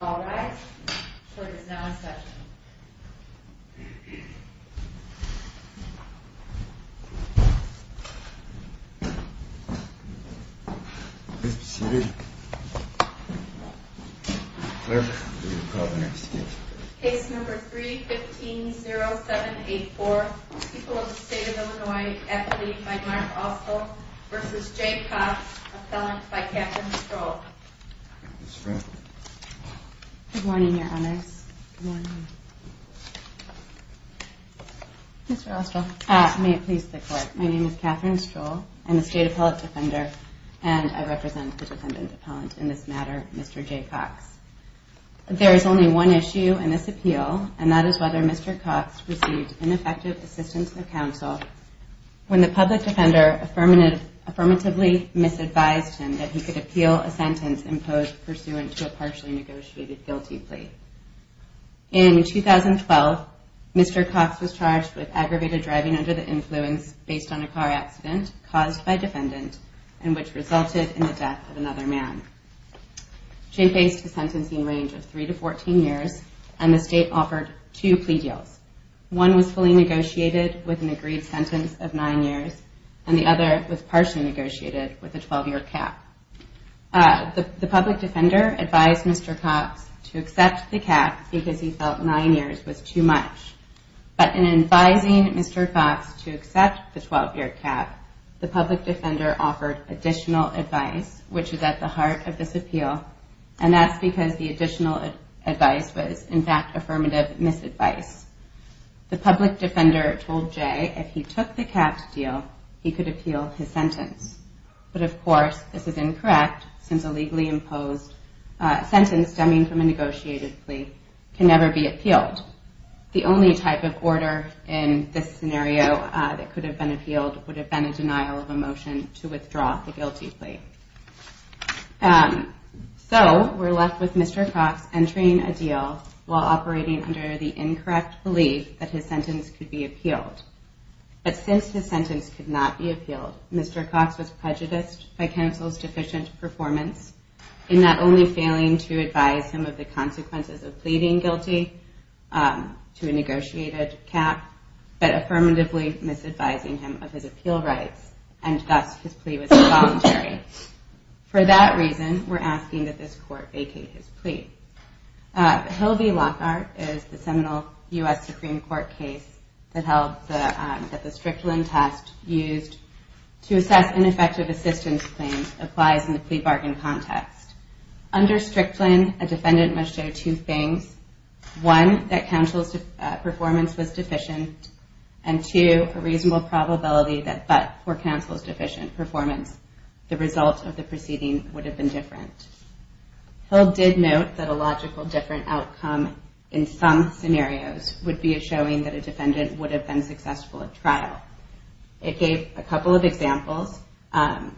All rise, the court is now in session. Case number 3-15-0784, people of the state of Illinois, Mark Austell v. J. Cox, appellant by Kathryn Stroll. May it please the court, my name is Kathryn Stroll, I'm a state appellant defender, and I represent the defendant appellant in this matter, Mr. J. Cox. There is only one issue in this appeal, and that is whether Mr. Cox received ineffective assistance from counsel, when the public defender affirmatively misadvised him that he could appeal a sentence imposed pursuant to a partially negotiated guilty plea. In 2012, Mr. Cox was charged with aggravated driving under the influence based on a car accident caused by a defendant, and which resulted in the death of another man. J. faced a sentencing range of 3-14 years, and the state offered two plea deals. One was fully negotiated with an agreed sentence of 9 years, and the other was partially negotiated with a 12 year cap. The public defender advised Mr. Cox to accept the cap because he felt 9 years was too much, but in advising Mr. Cox to accept the 12 year cap, the public defender offered additional advice, which is at the heart of this appeal, and that's because the additional advice was, in fact, affirmative misadvice. The public defender told J. if he took the capped deal, he could appeal his sentence. But of course, this is incorrect, since a legally imposed sentence stemming from a negotiated plea can never be appealed. The only type of order in this scenario that could have been appealed would have been a denial of a motion to withdraw the guilty plea. So, we're left with Mr. Cox entering a deal while operating under the incorrect belief that his sentence could be appealed. But since his sentence could not be appealed, Mr. Cox was prejudiced by counsel's deficient performance in not only failing to advise him of the consequences of pleading guilty to a negotiated cap, but affirmatively misadvising him of his appeal rights, and thus his plea was involuntary. For that reason, we're asking that this court vacate his plea. Hill v. Lockhart is the seminal U.S. Supreme Court case that held that the Strickland test used to assess ineffective assistance claims applies in the plea bargain context. Under Strickland, a defendant must show two things, one, that counsel's performance was deficient, and two, a reasonable probability that but for counsel's deficient performance, the result of the proceeding would have been different. Hill did note that a logical different outcome in some scenarios would be a showing that a defendant would have been successful at trial. It gave a couple of examples, and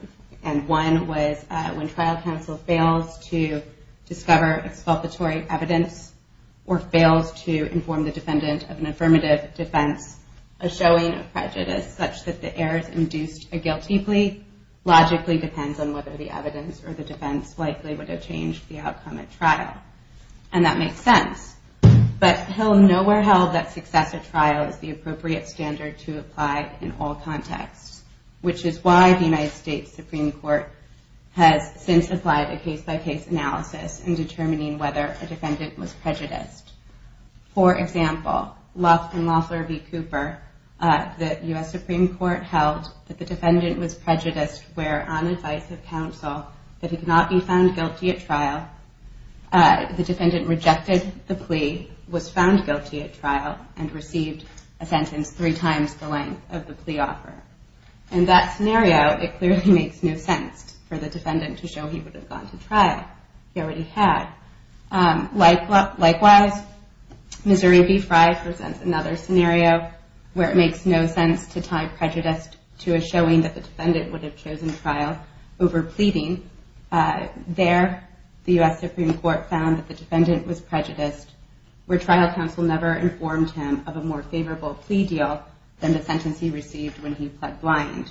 one was when trial counsel fails to discover exculpatory evidence or fails to inform the defendant of an affirmative defense, a showing of prejudice such that the errors induced a guilty plea logically depends on whether the evidence or the defense likely would have changed the outcome at trial, and that makes sense. But Hill nowhere held that success at trial is the appropriate standard to apply in all contexts, which is why the United States Supreme Court has since applied a case-by-case analysis in determining whether a defendant was prejudiced. For example, in Loeffler v. Cooper, the U.S. Supreme Court held that the defendant was prejudiced where on advice of counsel that he could not be found guilty at trial, the defendant rejected the plea, was found guilty at trial, and received a sentence three times the length of the plea offer. In that scenario, it clearly makes no sense for the defendant to show he would have gone to trial. He already had. Likewise, Missouri v. Fry presents another scenario where it makes no sense to tie prejudice to a showing that the defendant would have chosen trial over pleading. There, the U.S. Supreme Court found that the defendant was prejudiced where trial counsel never informed him of a more favorable plea deal than the sentence he received when he pled blind.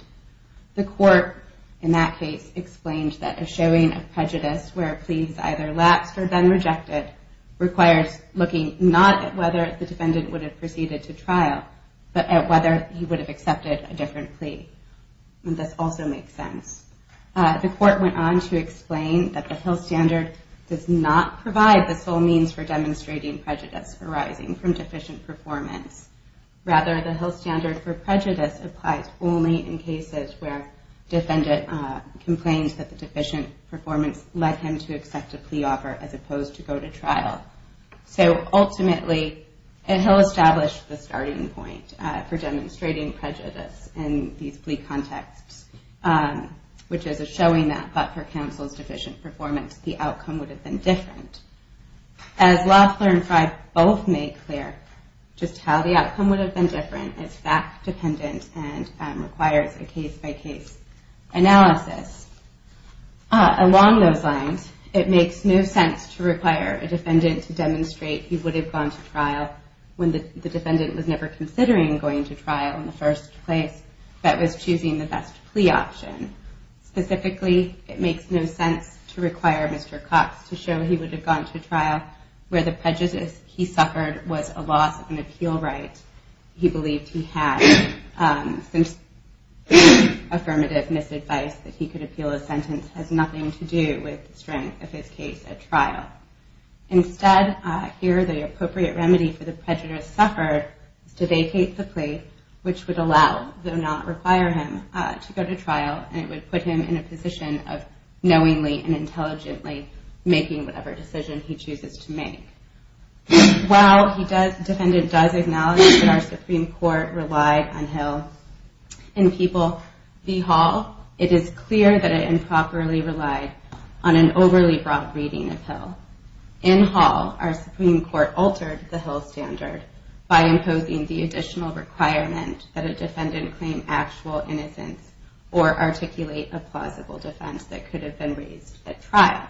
The court, in that case, explained that a showing of prejudice where a plea is either lapsed or then rejected requires looking not at whether the defendant would have proceeded to trial, but at whether he would have accepted a different plea. This also makes sense. The court went on to explain that the Hill standard does not provide the sole means for demonstrating prejudice arising from deficient performance. Rather, the Hill standard for prejudice applies only in cases where the defendant complains that the deficient performance led him to accept a plea offer as opposed to go to trial. So ultimately, Hill established the starting point for demonstrating prejudice in these plea contexts, which is a showing that, but for counsel's deficient performance, the outcome would have been different. As Loeffler and Fry both make clear, just how the outcome would have been different is fact-dependent and requires a case-by-case analysis. Along those lines, it makes no sense to require a defendant to demonstrate he would have gone to trial when the defendant was never considering going to trial in the first place, but was choosing the best plea option. Specifically, it makes no sense to require Mr. Cox to show he would have gone to trial where the prejudice he suffered was a loss of an appeal right. He believed he had some affirmative misadvice that he could appeal a sentence that has nothing to do with the strength of his case at trial. Instead, here the appropriate remedy for the prejudice suffered is to vacate the plea, which would allow, though not require him to go to trial, and it would put him in a position of knowingly and intelligently making whatever decision he chooses to make. While the defendant does acknowledge that our Supreme Court relied on Hill in People v. Hall, it is clear that it improperly relied on an overly broad reading of Hill. In Hall, our Supreme Court altered the Hill standard by imposing the additional requirement that a defendant claim actual innocence or articulate a plausible defense that could have been raised at trial.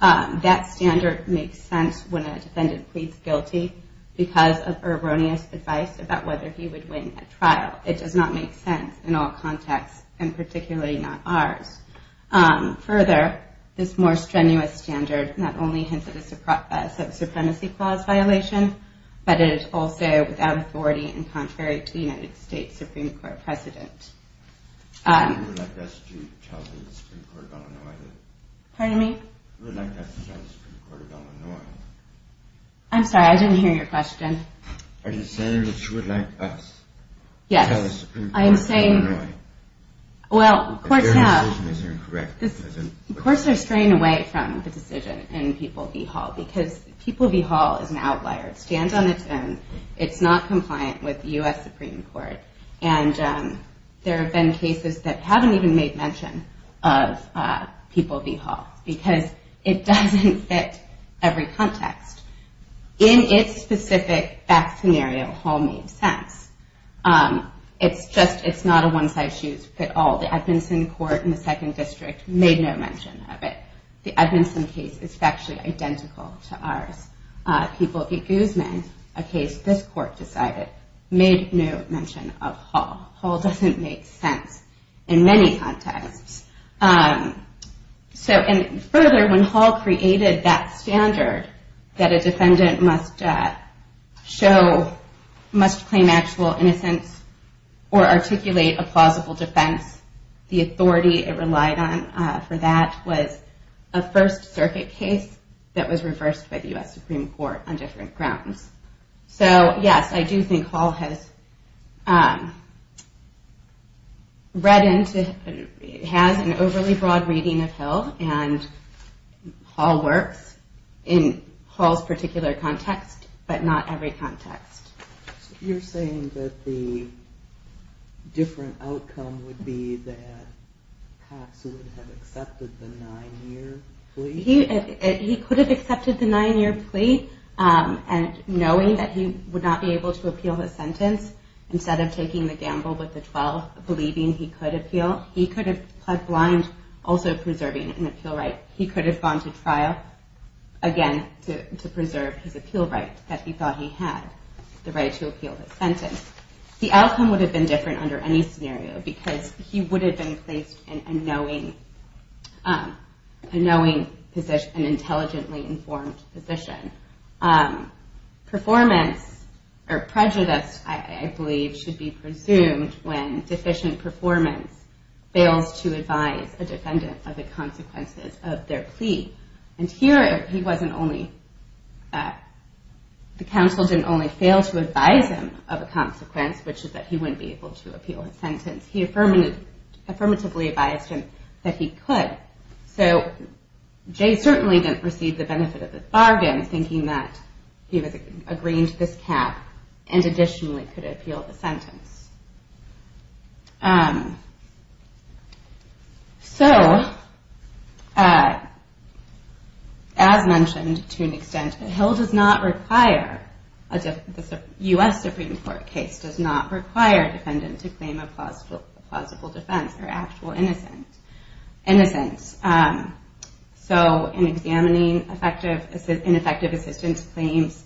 That standard makes sense when a defendant pleads guilty because of erroneous advice about whether he would win at trial. It does not make sense in all contexts, and particularly not ours. Further, this more strenuous standard not only hints at a sub-supremacy clause violation, but it is also without authority and contrary to the United States Supreme Court precedent. I'm sorry, I didn't hear your question. Are you saying that you would like us to tell the Supreme Court in Illinois that their decision is incorrect? Of course they're straying away from the decision in People v. Hall because People v. Hall is an outlier. It stands on its own. It's not compliant with the U.S. Supreme Court, and there have been cases that haven't even made mention of People v. Hall because it doesn't fit every context. In its specific fact scenario, Hall made sense. It's not a one-size-fits-all. The Edmondson Court in the Second District made no mention of it. The Edmondson case is factually identical to ours. People v. Guzman, a case this Court decided, made no mention of Hall. Hall doesn't make sense in many contexts. Further, when Hall created that standard that a defendant must claim actual innocence or articulate a plausible defense, the authority it relied on for that was a First Circuit case that was reversed by the U.S. Supreme Court on different grounds. Yes, I do think Hall has an overly broad reading of Hill, and Hall works in Hall's particular context, but not every context. You're saying that the different outcome would be that Cox would have accepted the nine-year plea? He could have accepted the nine-year plea knowing that he would not be able to appeal his sentence instead of taking the gamble with the 12, believing he could appeal. He could have pled blind, also preserving an appeal right. He could have gone to trial, again, to preserve his appeal right that he thought he had, the right to appeal his sentence. The outcome would have been different under any scenario because he would have been placed in a knowing, an intelligently informed position. Prejudice, I believe, should be presumed when deficient performance fails to advise a defendant of the consequences of their plea. Here, the counsel didn't only fail to advise him of a consequence, which is that he wouldn't be able to appeal his sentence. He affirmatively advised him that he could. Jay certainly didn't receive the benefit of this bargain, thinking that he was agreeing to this cap and additionally could appeal the sentence. As mentioned, to an extent, the U.S. Supreme Court case does not require a defendant to claim a plausible defense or actual innocence. In examining ineffective assistance claims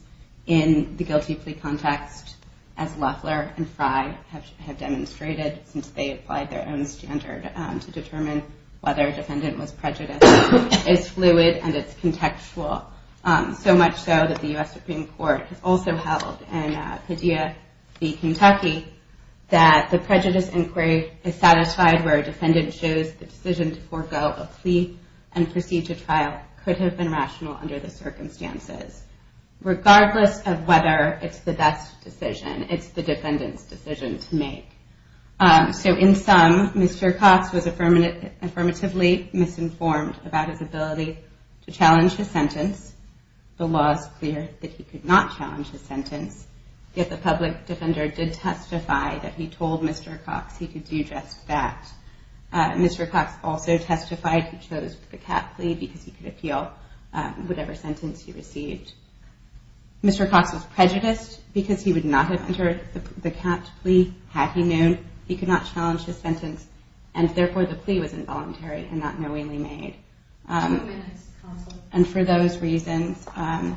in the guilty plea context, as Loeffler and Fry have demonstrated since they applied their own standard to determine whether a defendant was prejudiced, it's fluid and it's contextual. So much so that the U.S. Supreme Court has also held in Padilla v. Kentucky that the prejudice inquiry is satisfied where a defendant shows the decision to forego a plea and proceed to trial could have been rational under the circumstances. Regardless of whether it's the best decision, it's the defendant's decision to make. So in sum, Mr. Cox was affirmatively misinformed about his ability to challenge his sentence. The law is clear that he could not challenge his sentence, yet the public defender did testify that he told Mr. Cox he could do just that. Mr. Cox also testified he chose the cap plea because he could appeal whatever sentence he received. Mr. Cox was prejudiced because he would not have entered the cap plea had he known he could not challenge his sentence, and therefore the plea was involuntary and not knowingly made. And for those reasons, and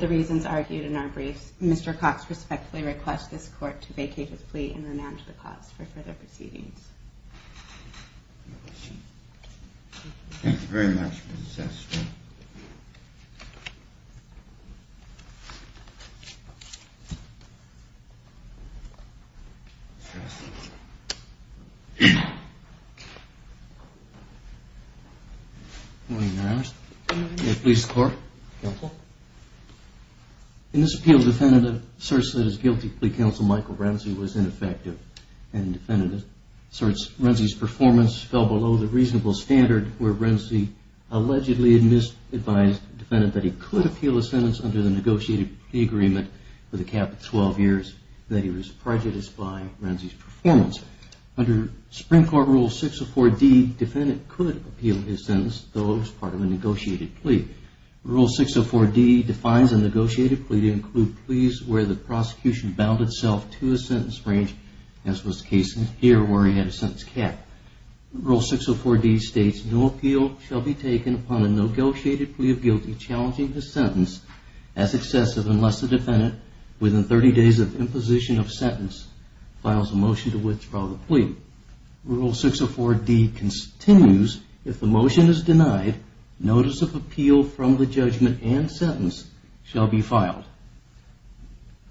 the reasons argued in our briefs, Mr. Cox respectfully requests this Court to vacate his plea and renounce the cause for further proceedings. Thank you very much. Good morning, Your Honor. Good morning. In this appeal, the defendant asserts that his guilty plea counsel, Michael Browns, was ineffective, and the defendant asserts Renzi's performance fell below the reasonable standard where Renzi allegedly advised the defendant that he could appeal his sentence under the negotiated plea agreement with a cap of 12 years, that he was prejudiced by Renzi's performance. Under Supreme Court Rule 604D, the defendant could appeal his sentence, though it was part of a negotiated plea. Rule 604D defines a negotiated plea to include pleas where the prosecution bound itself to a sentence range, as was the case here where he had a sentence cap. Rule 604D states, no appeal shall be taken upon a negotiated plea of guilty challenging the sentence as excessive unless the defendant, within 30 days of imposition of sentence, files a motion to withdraw the plea. Rule 604D continues, if the motion is denied, notice of appeal from the judgment and sentence shall be filed.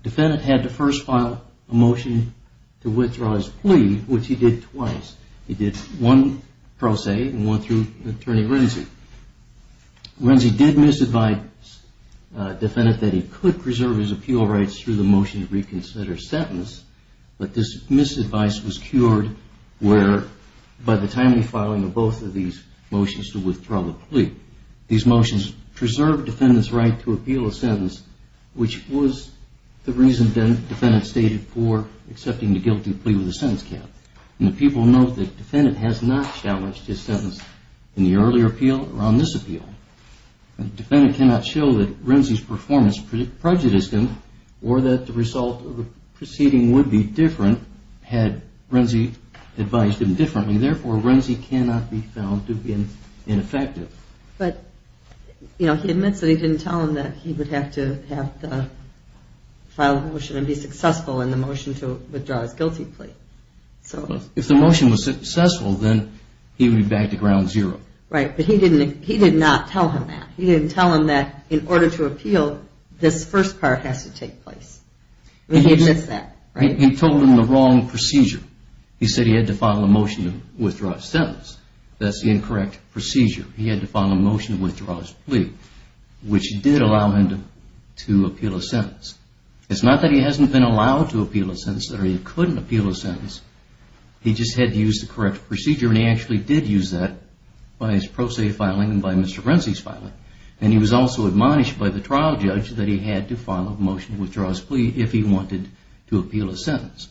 The defendant had to first file a motion to withdraw his plea, which he did twice. He did one pro se and one through Attorney Renzi. Renzi did misadvise the defendant that he could preserve his appeal rights through the motion to reconsider his sentence, but this misadvice was cured by the timely filing of both of these motions to withdraw the plea. These motions preserved the defendant's right to appeal a sentence, which was the reason the defendant stated for accepting the guilty plea with a sentence cap. The people note that the defendant has not challenged his sentence in the earlier appeal or on this appeal. The defendant cannot show that Renzi's performance prejudiced him or that the result of the proceeding would be different had Renzi advised him differently. Therefore, Renzi cannot be found to be ineffective. But he admits that he didn't tell him that he would have to file a motion and be successful in the motion to withdraw his guilty plea. If the motion was successful, then he would be back to ground zero. Right, but he did not tell him that. He didn't tell him that in order to appeal, this first part has to take place. He admits that, right? He told him the wrong procedure. He said he had to file a motion to withdraw his sentence. That's the incorrect procedure. He had to file a motion to withdraw his plea, which did allow him to appeal a sentence. It's not that he hasn't been allowed to appeal a sentence or he couldn't appeal a sentence. He just had to use the correct procedure. And he actually did use that by his pro se filing and by Mr. Renzi's filing. And he was also admonished by the trial judge that he had to file a motion to withdraw his plea if he wanted to appeal a sentence.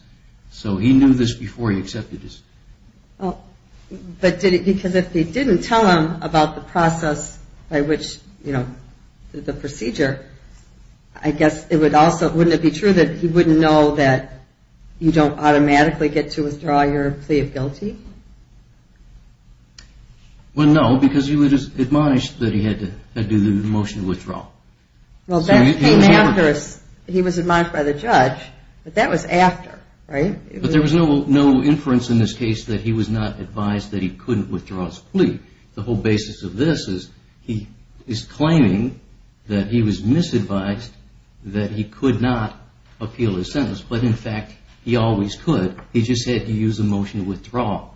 So he knew this before he accepted his plea. But did he, because if he didn't tell him about the process by which, you know, the procedure, I guess it would also, wouldn't it be true that he wouldn't know that you don't automatically get to withdraw your plea of guilty? Well, no, because he was admonished that he had to do the motion to withdraw. Well, that came after he was admonished by the judge, but that was after, right? But there was no inference in this case that he was not advised that he couldn't withdraw his plea. The whole basis of this is he is claiming that he was misadvised, that he could not appeal his sentence. But in fact, he always could. He just had to use a motion to withdraw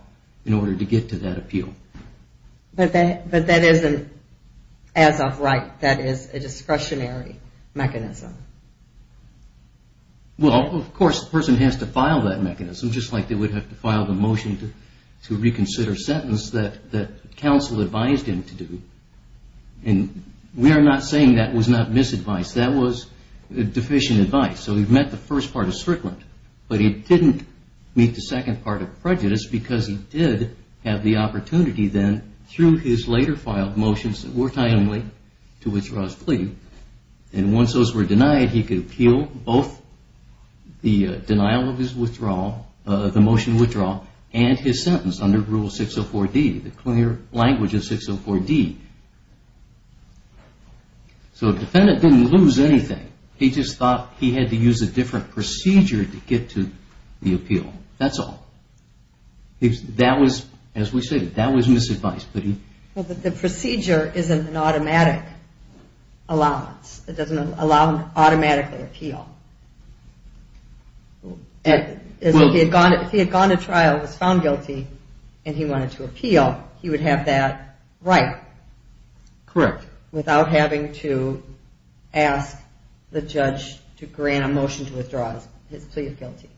in order to get to that appeal. But that isn't as of right. That is a discretionary mechanism. Well, of course, the person has to file that mechanism, just like they would have to file the motion to reconsider a sentence that counsel advised him to do. And we are not saying that was not misadvised. That was deficient advice. So he met the first part of Strickland, but he didn't meet the second part of prejudice because he did have the opportunity then through his later filed motions that were timely to withdraw his plea. And once those were denied, he could appeal both the denial of his withdrawal, the motion to withdraw, and his sentence under Rule 604D, the clear language of 604D. So the defendant didn't lose anything. He just thought he had to use a different procedure to get to the appeal. Well, the procedure isn't an automatic allowance. It doesn't allow him to automatically appeal. If he had gone to trial, was found guilty, and he wanted to appeal, he would have that right. Correct. Without having to ask the judge to grant a motion to withdraw his plea of guilty.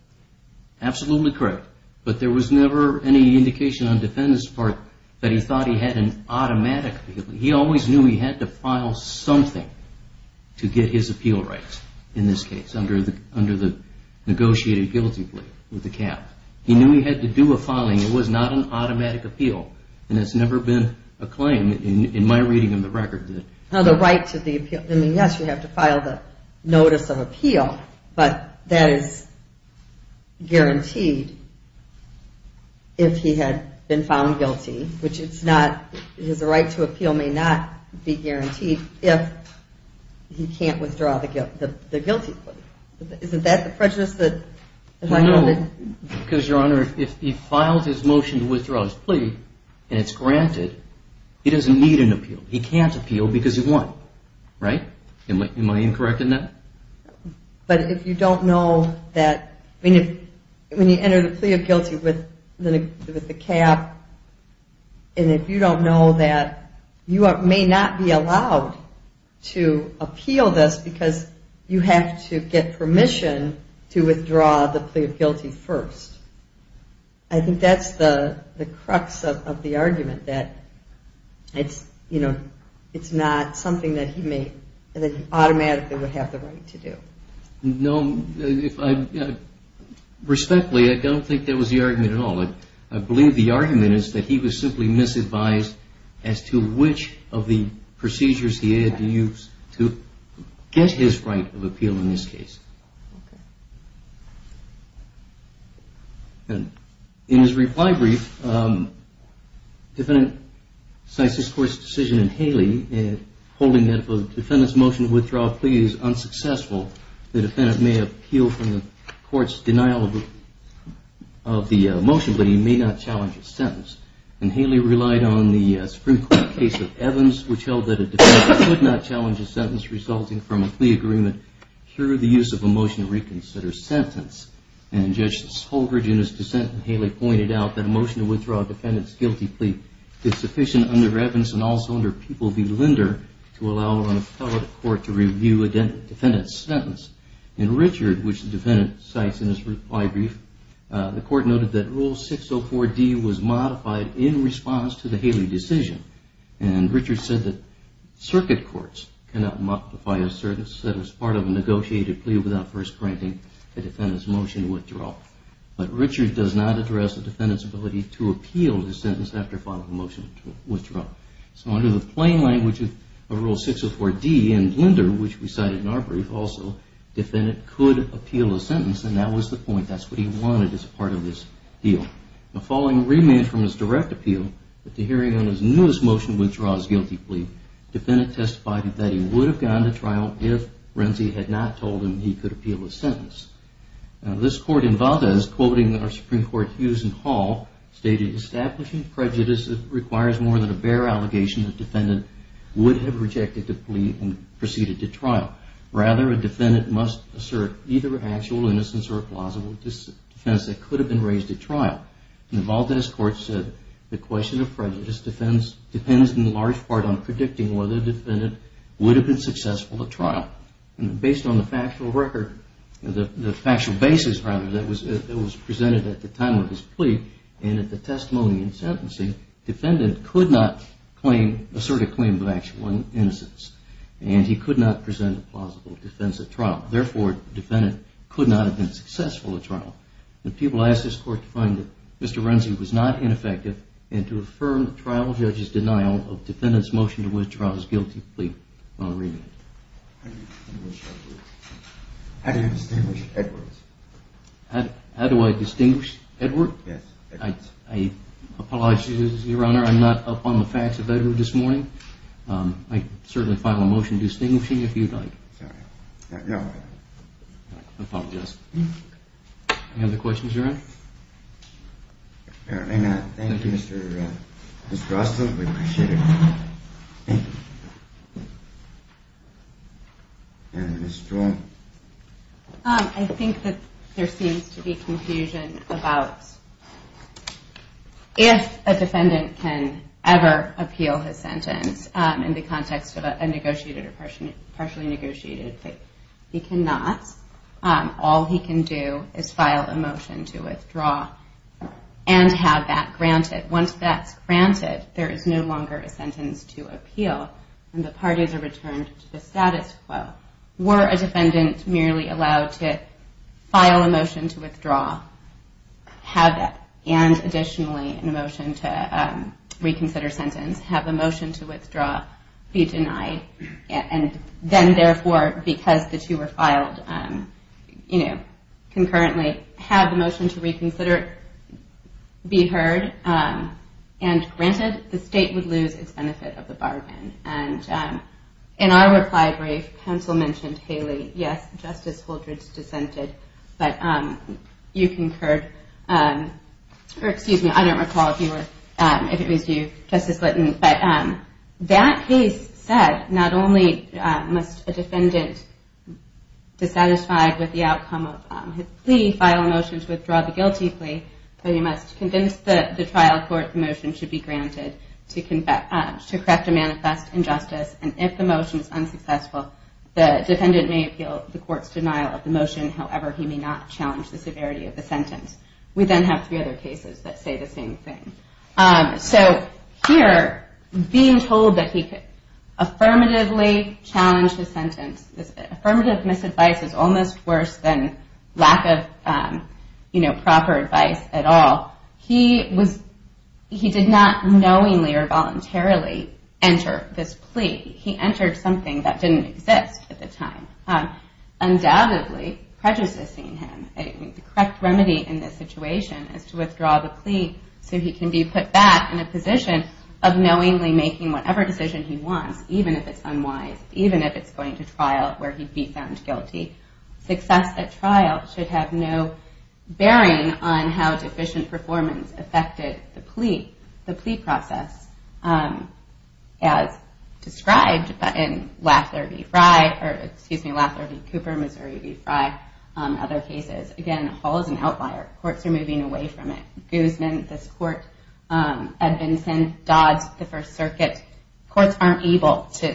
Absolutely correct. But there was never any indication on the defendant's part that he thought he had an automatic appeal. He always knew he had to file something to get his appeal rights in this case under the negotiated guilty plea with the cap. He knew he had to do a filing. It was not an automatic appeal. And it's never been a claim in my reading of the record. No, the right to the appeal. I mean, yes, you have to file the notice of appeal, but that is guaranteed if he had been found guilty, which it's not. His right to appeal may not be guaranteed if he can't withdraw the guilty plea. Isn't that the prejudice? No, because, Your Honor, if he files his motion to withdraw his plea, and it's granted, he doesn't need an appeal. He can't appeal because he won. Right? Am I incorrect in that? But if you don't know that, I mean, when you enter the plea of guilty with the cap, and if you don't know that, you may not be allowed to appeal this because you have to get permission to withdraw the plea of guilty first. I think that's the crux of the argument, that it's not something that he automatically would have the right to do. Respectfully, I don't think that was the argument at all. I believe the argument is that he was simply misadvised as to which of the procedures he had to use to get his right of appeal in this case. In his reply brief, defendant cites this Court's decision in Haley, holding that if a defendant's motion to withdraw a plea is unsuccessful, the defendant may appeal from the Court's denial of the motion, but he may not challenge a sentence. And Haley relied on the Supreme Court case of Evans, which held that a defendant could not challenge a sentence resulting from a plea agreement through the use of a motion to reconsider sentence. And Judge Holdred, in his dissent, in Haley, pointed out that a motion to withdraw a defendant's guilty plea is sufficient under Evans and also under People v. Linder to allow an appellate court to review a defendant's sentence. In Richard, which was modified in response to the Haley decision, and Richard said that circuit courts cannot multiply a sentence that is part of a negotiated plea without first granting a defendant's motion to withdraw. But Richard does not address a defendant's ability to appeal the sentence after following a motion to withdraw. So under the plain language of Rule 604D and Linder, which we cited in our brief also, a defendant could not challenge a sentence that is part of this deal. Now, following remand from his direct appeal, at the hearing on his newest motion to withdraw his guilty plea, the defendant testified that he would have gone to trial if Renzi had not told him he could appeal the sentence. Now, this Court involved us, quoting our Supreme Court, Hughes and Hall, stating, establishing prejudice requires more than a bare allegation that the defendant would have rejected the plea and could have been raised at trial. And involved us, the Court said, the question of prejudice depends in large part on predicting whether the defendant would have been successful at trial. And based on the factual record, the factual basis, rather, that was presented at the time of his plea, and at the testimony and sentencing, the defendant could not assert a claim of actual innocence. And he could not present a plausible defense at trial. Therefore, the defendant could not have been successful at trial. And people asked this Court to find that Mr. Renzi was not ineffective and to affirm the trial judge's denial of the defendant's motion to withdraw his guilty plea on remand. How do you distinguish Edwards? How do I distinguish Edwards? I apologize, Your Honor, I'm not up on the facts about Edwards this morning. I'd certainly file a motion distinguishing if you'd like. I apologize. Any other questions, Your Honor? Thank you, Mr. Renzi. Thank you. I think that there seems to be confusion about if a defendant can ever appeal his sentence in the context of a negotiated or partially negotiated plea. He cannot. All he can do is file a motion to withdraw and have that granted. Once that's granted, there is no longer a sentence to appeal, and the parties are returned to the status quo. Were a defendant merely allowed to file a motion to withdraw, have that, and additionally a motion to reconsider sentence, have the motion to withdraw be denied, and then therefore because the two were filed concurrently, have the motion to reconsider be heard and granted, the State would lose its benefit of the bargain. In our reply brief, counsel mentioned Haley. Yes, Justice Holdreds dissented, but you concurred or excuse me, I don't recall if it was you, Justice Litton, but that case said not only must a defendant dissatisfied with the outcome of his plea file a motion to withdraw the guilty plea, but he must convince the trial court the motion should be granted to correct a manifest injustice, and if the motion is unsuccessful, the defendant may appeal the court's denial of the motion. However, he may not challenge the severity of the sentence. We then have three other cases that say the same thing. Being told that he could affirmatively challenge his sentence, affirmative misadvice is almost worse than lack of proper advice at all, he did not knowingly or voluntarily enter this plea. He entered something that didn't exist at the time. Undoubtedly, prejudicing him, the correct remedy in this situation is to withdraw the plea so he can be put back in a position of knowingly making whatever decision he wants, even if it's unwise, even if it's going to trial where he'd be found guilty. Success at trial should have no bearing on how deficient performance affected the plea process as described in Laffler v. Cooper, Missouri v. Fry, other cases. Again, Hall is an outlier. Courts are moving away from it. Guzman, this court, Edmondson, Dodds, the First Circuit, courts aren't able to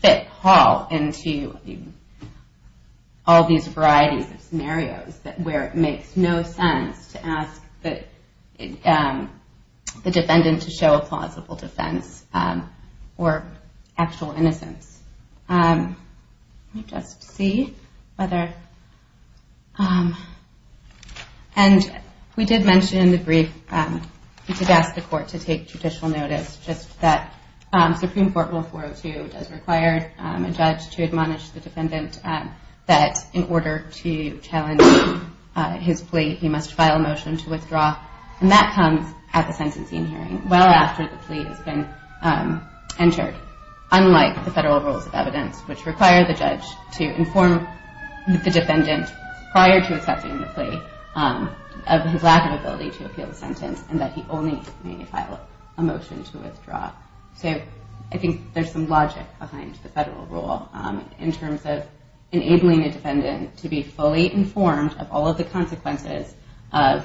fit Hall into all these varieties of scenarios where it makes no sense to ask the defendant to show a plausible defense or actual innocence. Let me just see whether... And we did mention in the brief, he did ask the court to take judicial notice, just that Supreme Court Rule 402 does require a judge to admonish the defendant that in order to challenge his plea, he must file a motion to withdraw, and that comes at the sentencing hearing well after the plea has been entered, unlike the federal rules of evidence, which require the judge to inform the defendant prior to accepting the plea of his lack of ability to appeal the sentence and that he only may file a motion to withdraw. So I think there's some logic behind the federal rule in terms of enabling a defendant to be fully informed of all of the circumstances in which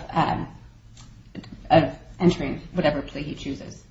he chooses. Okay, thank you.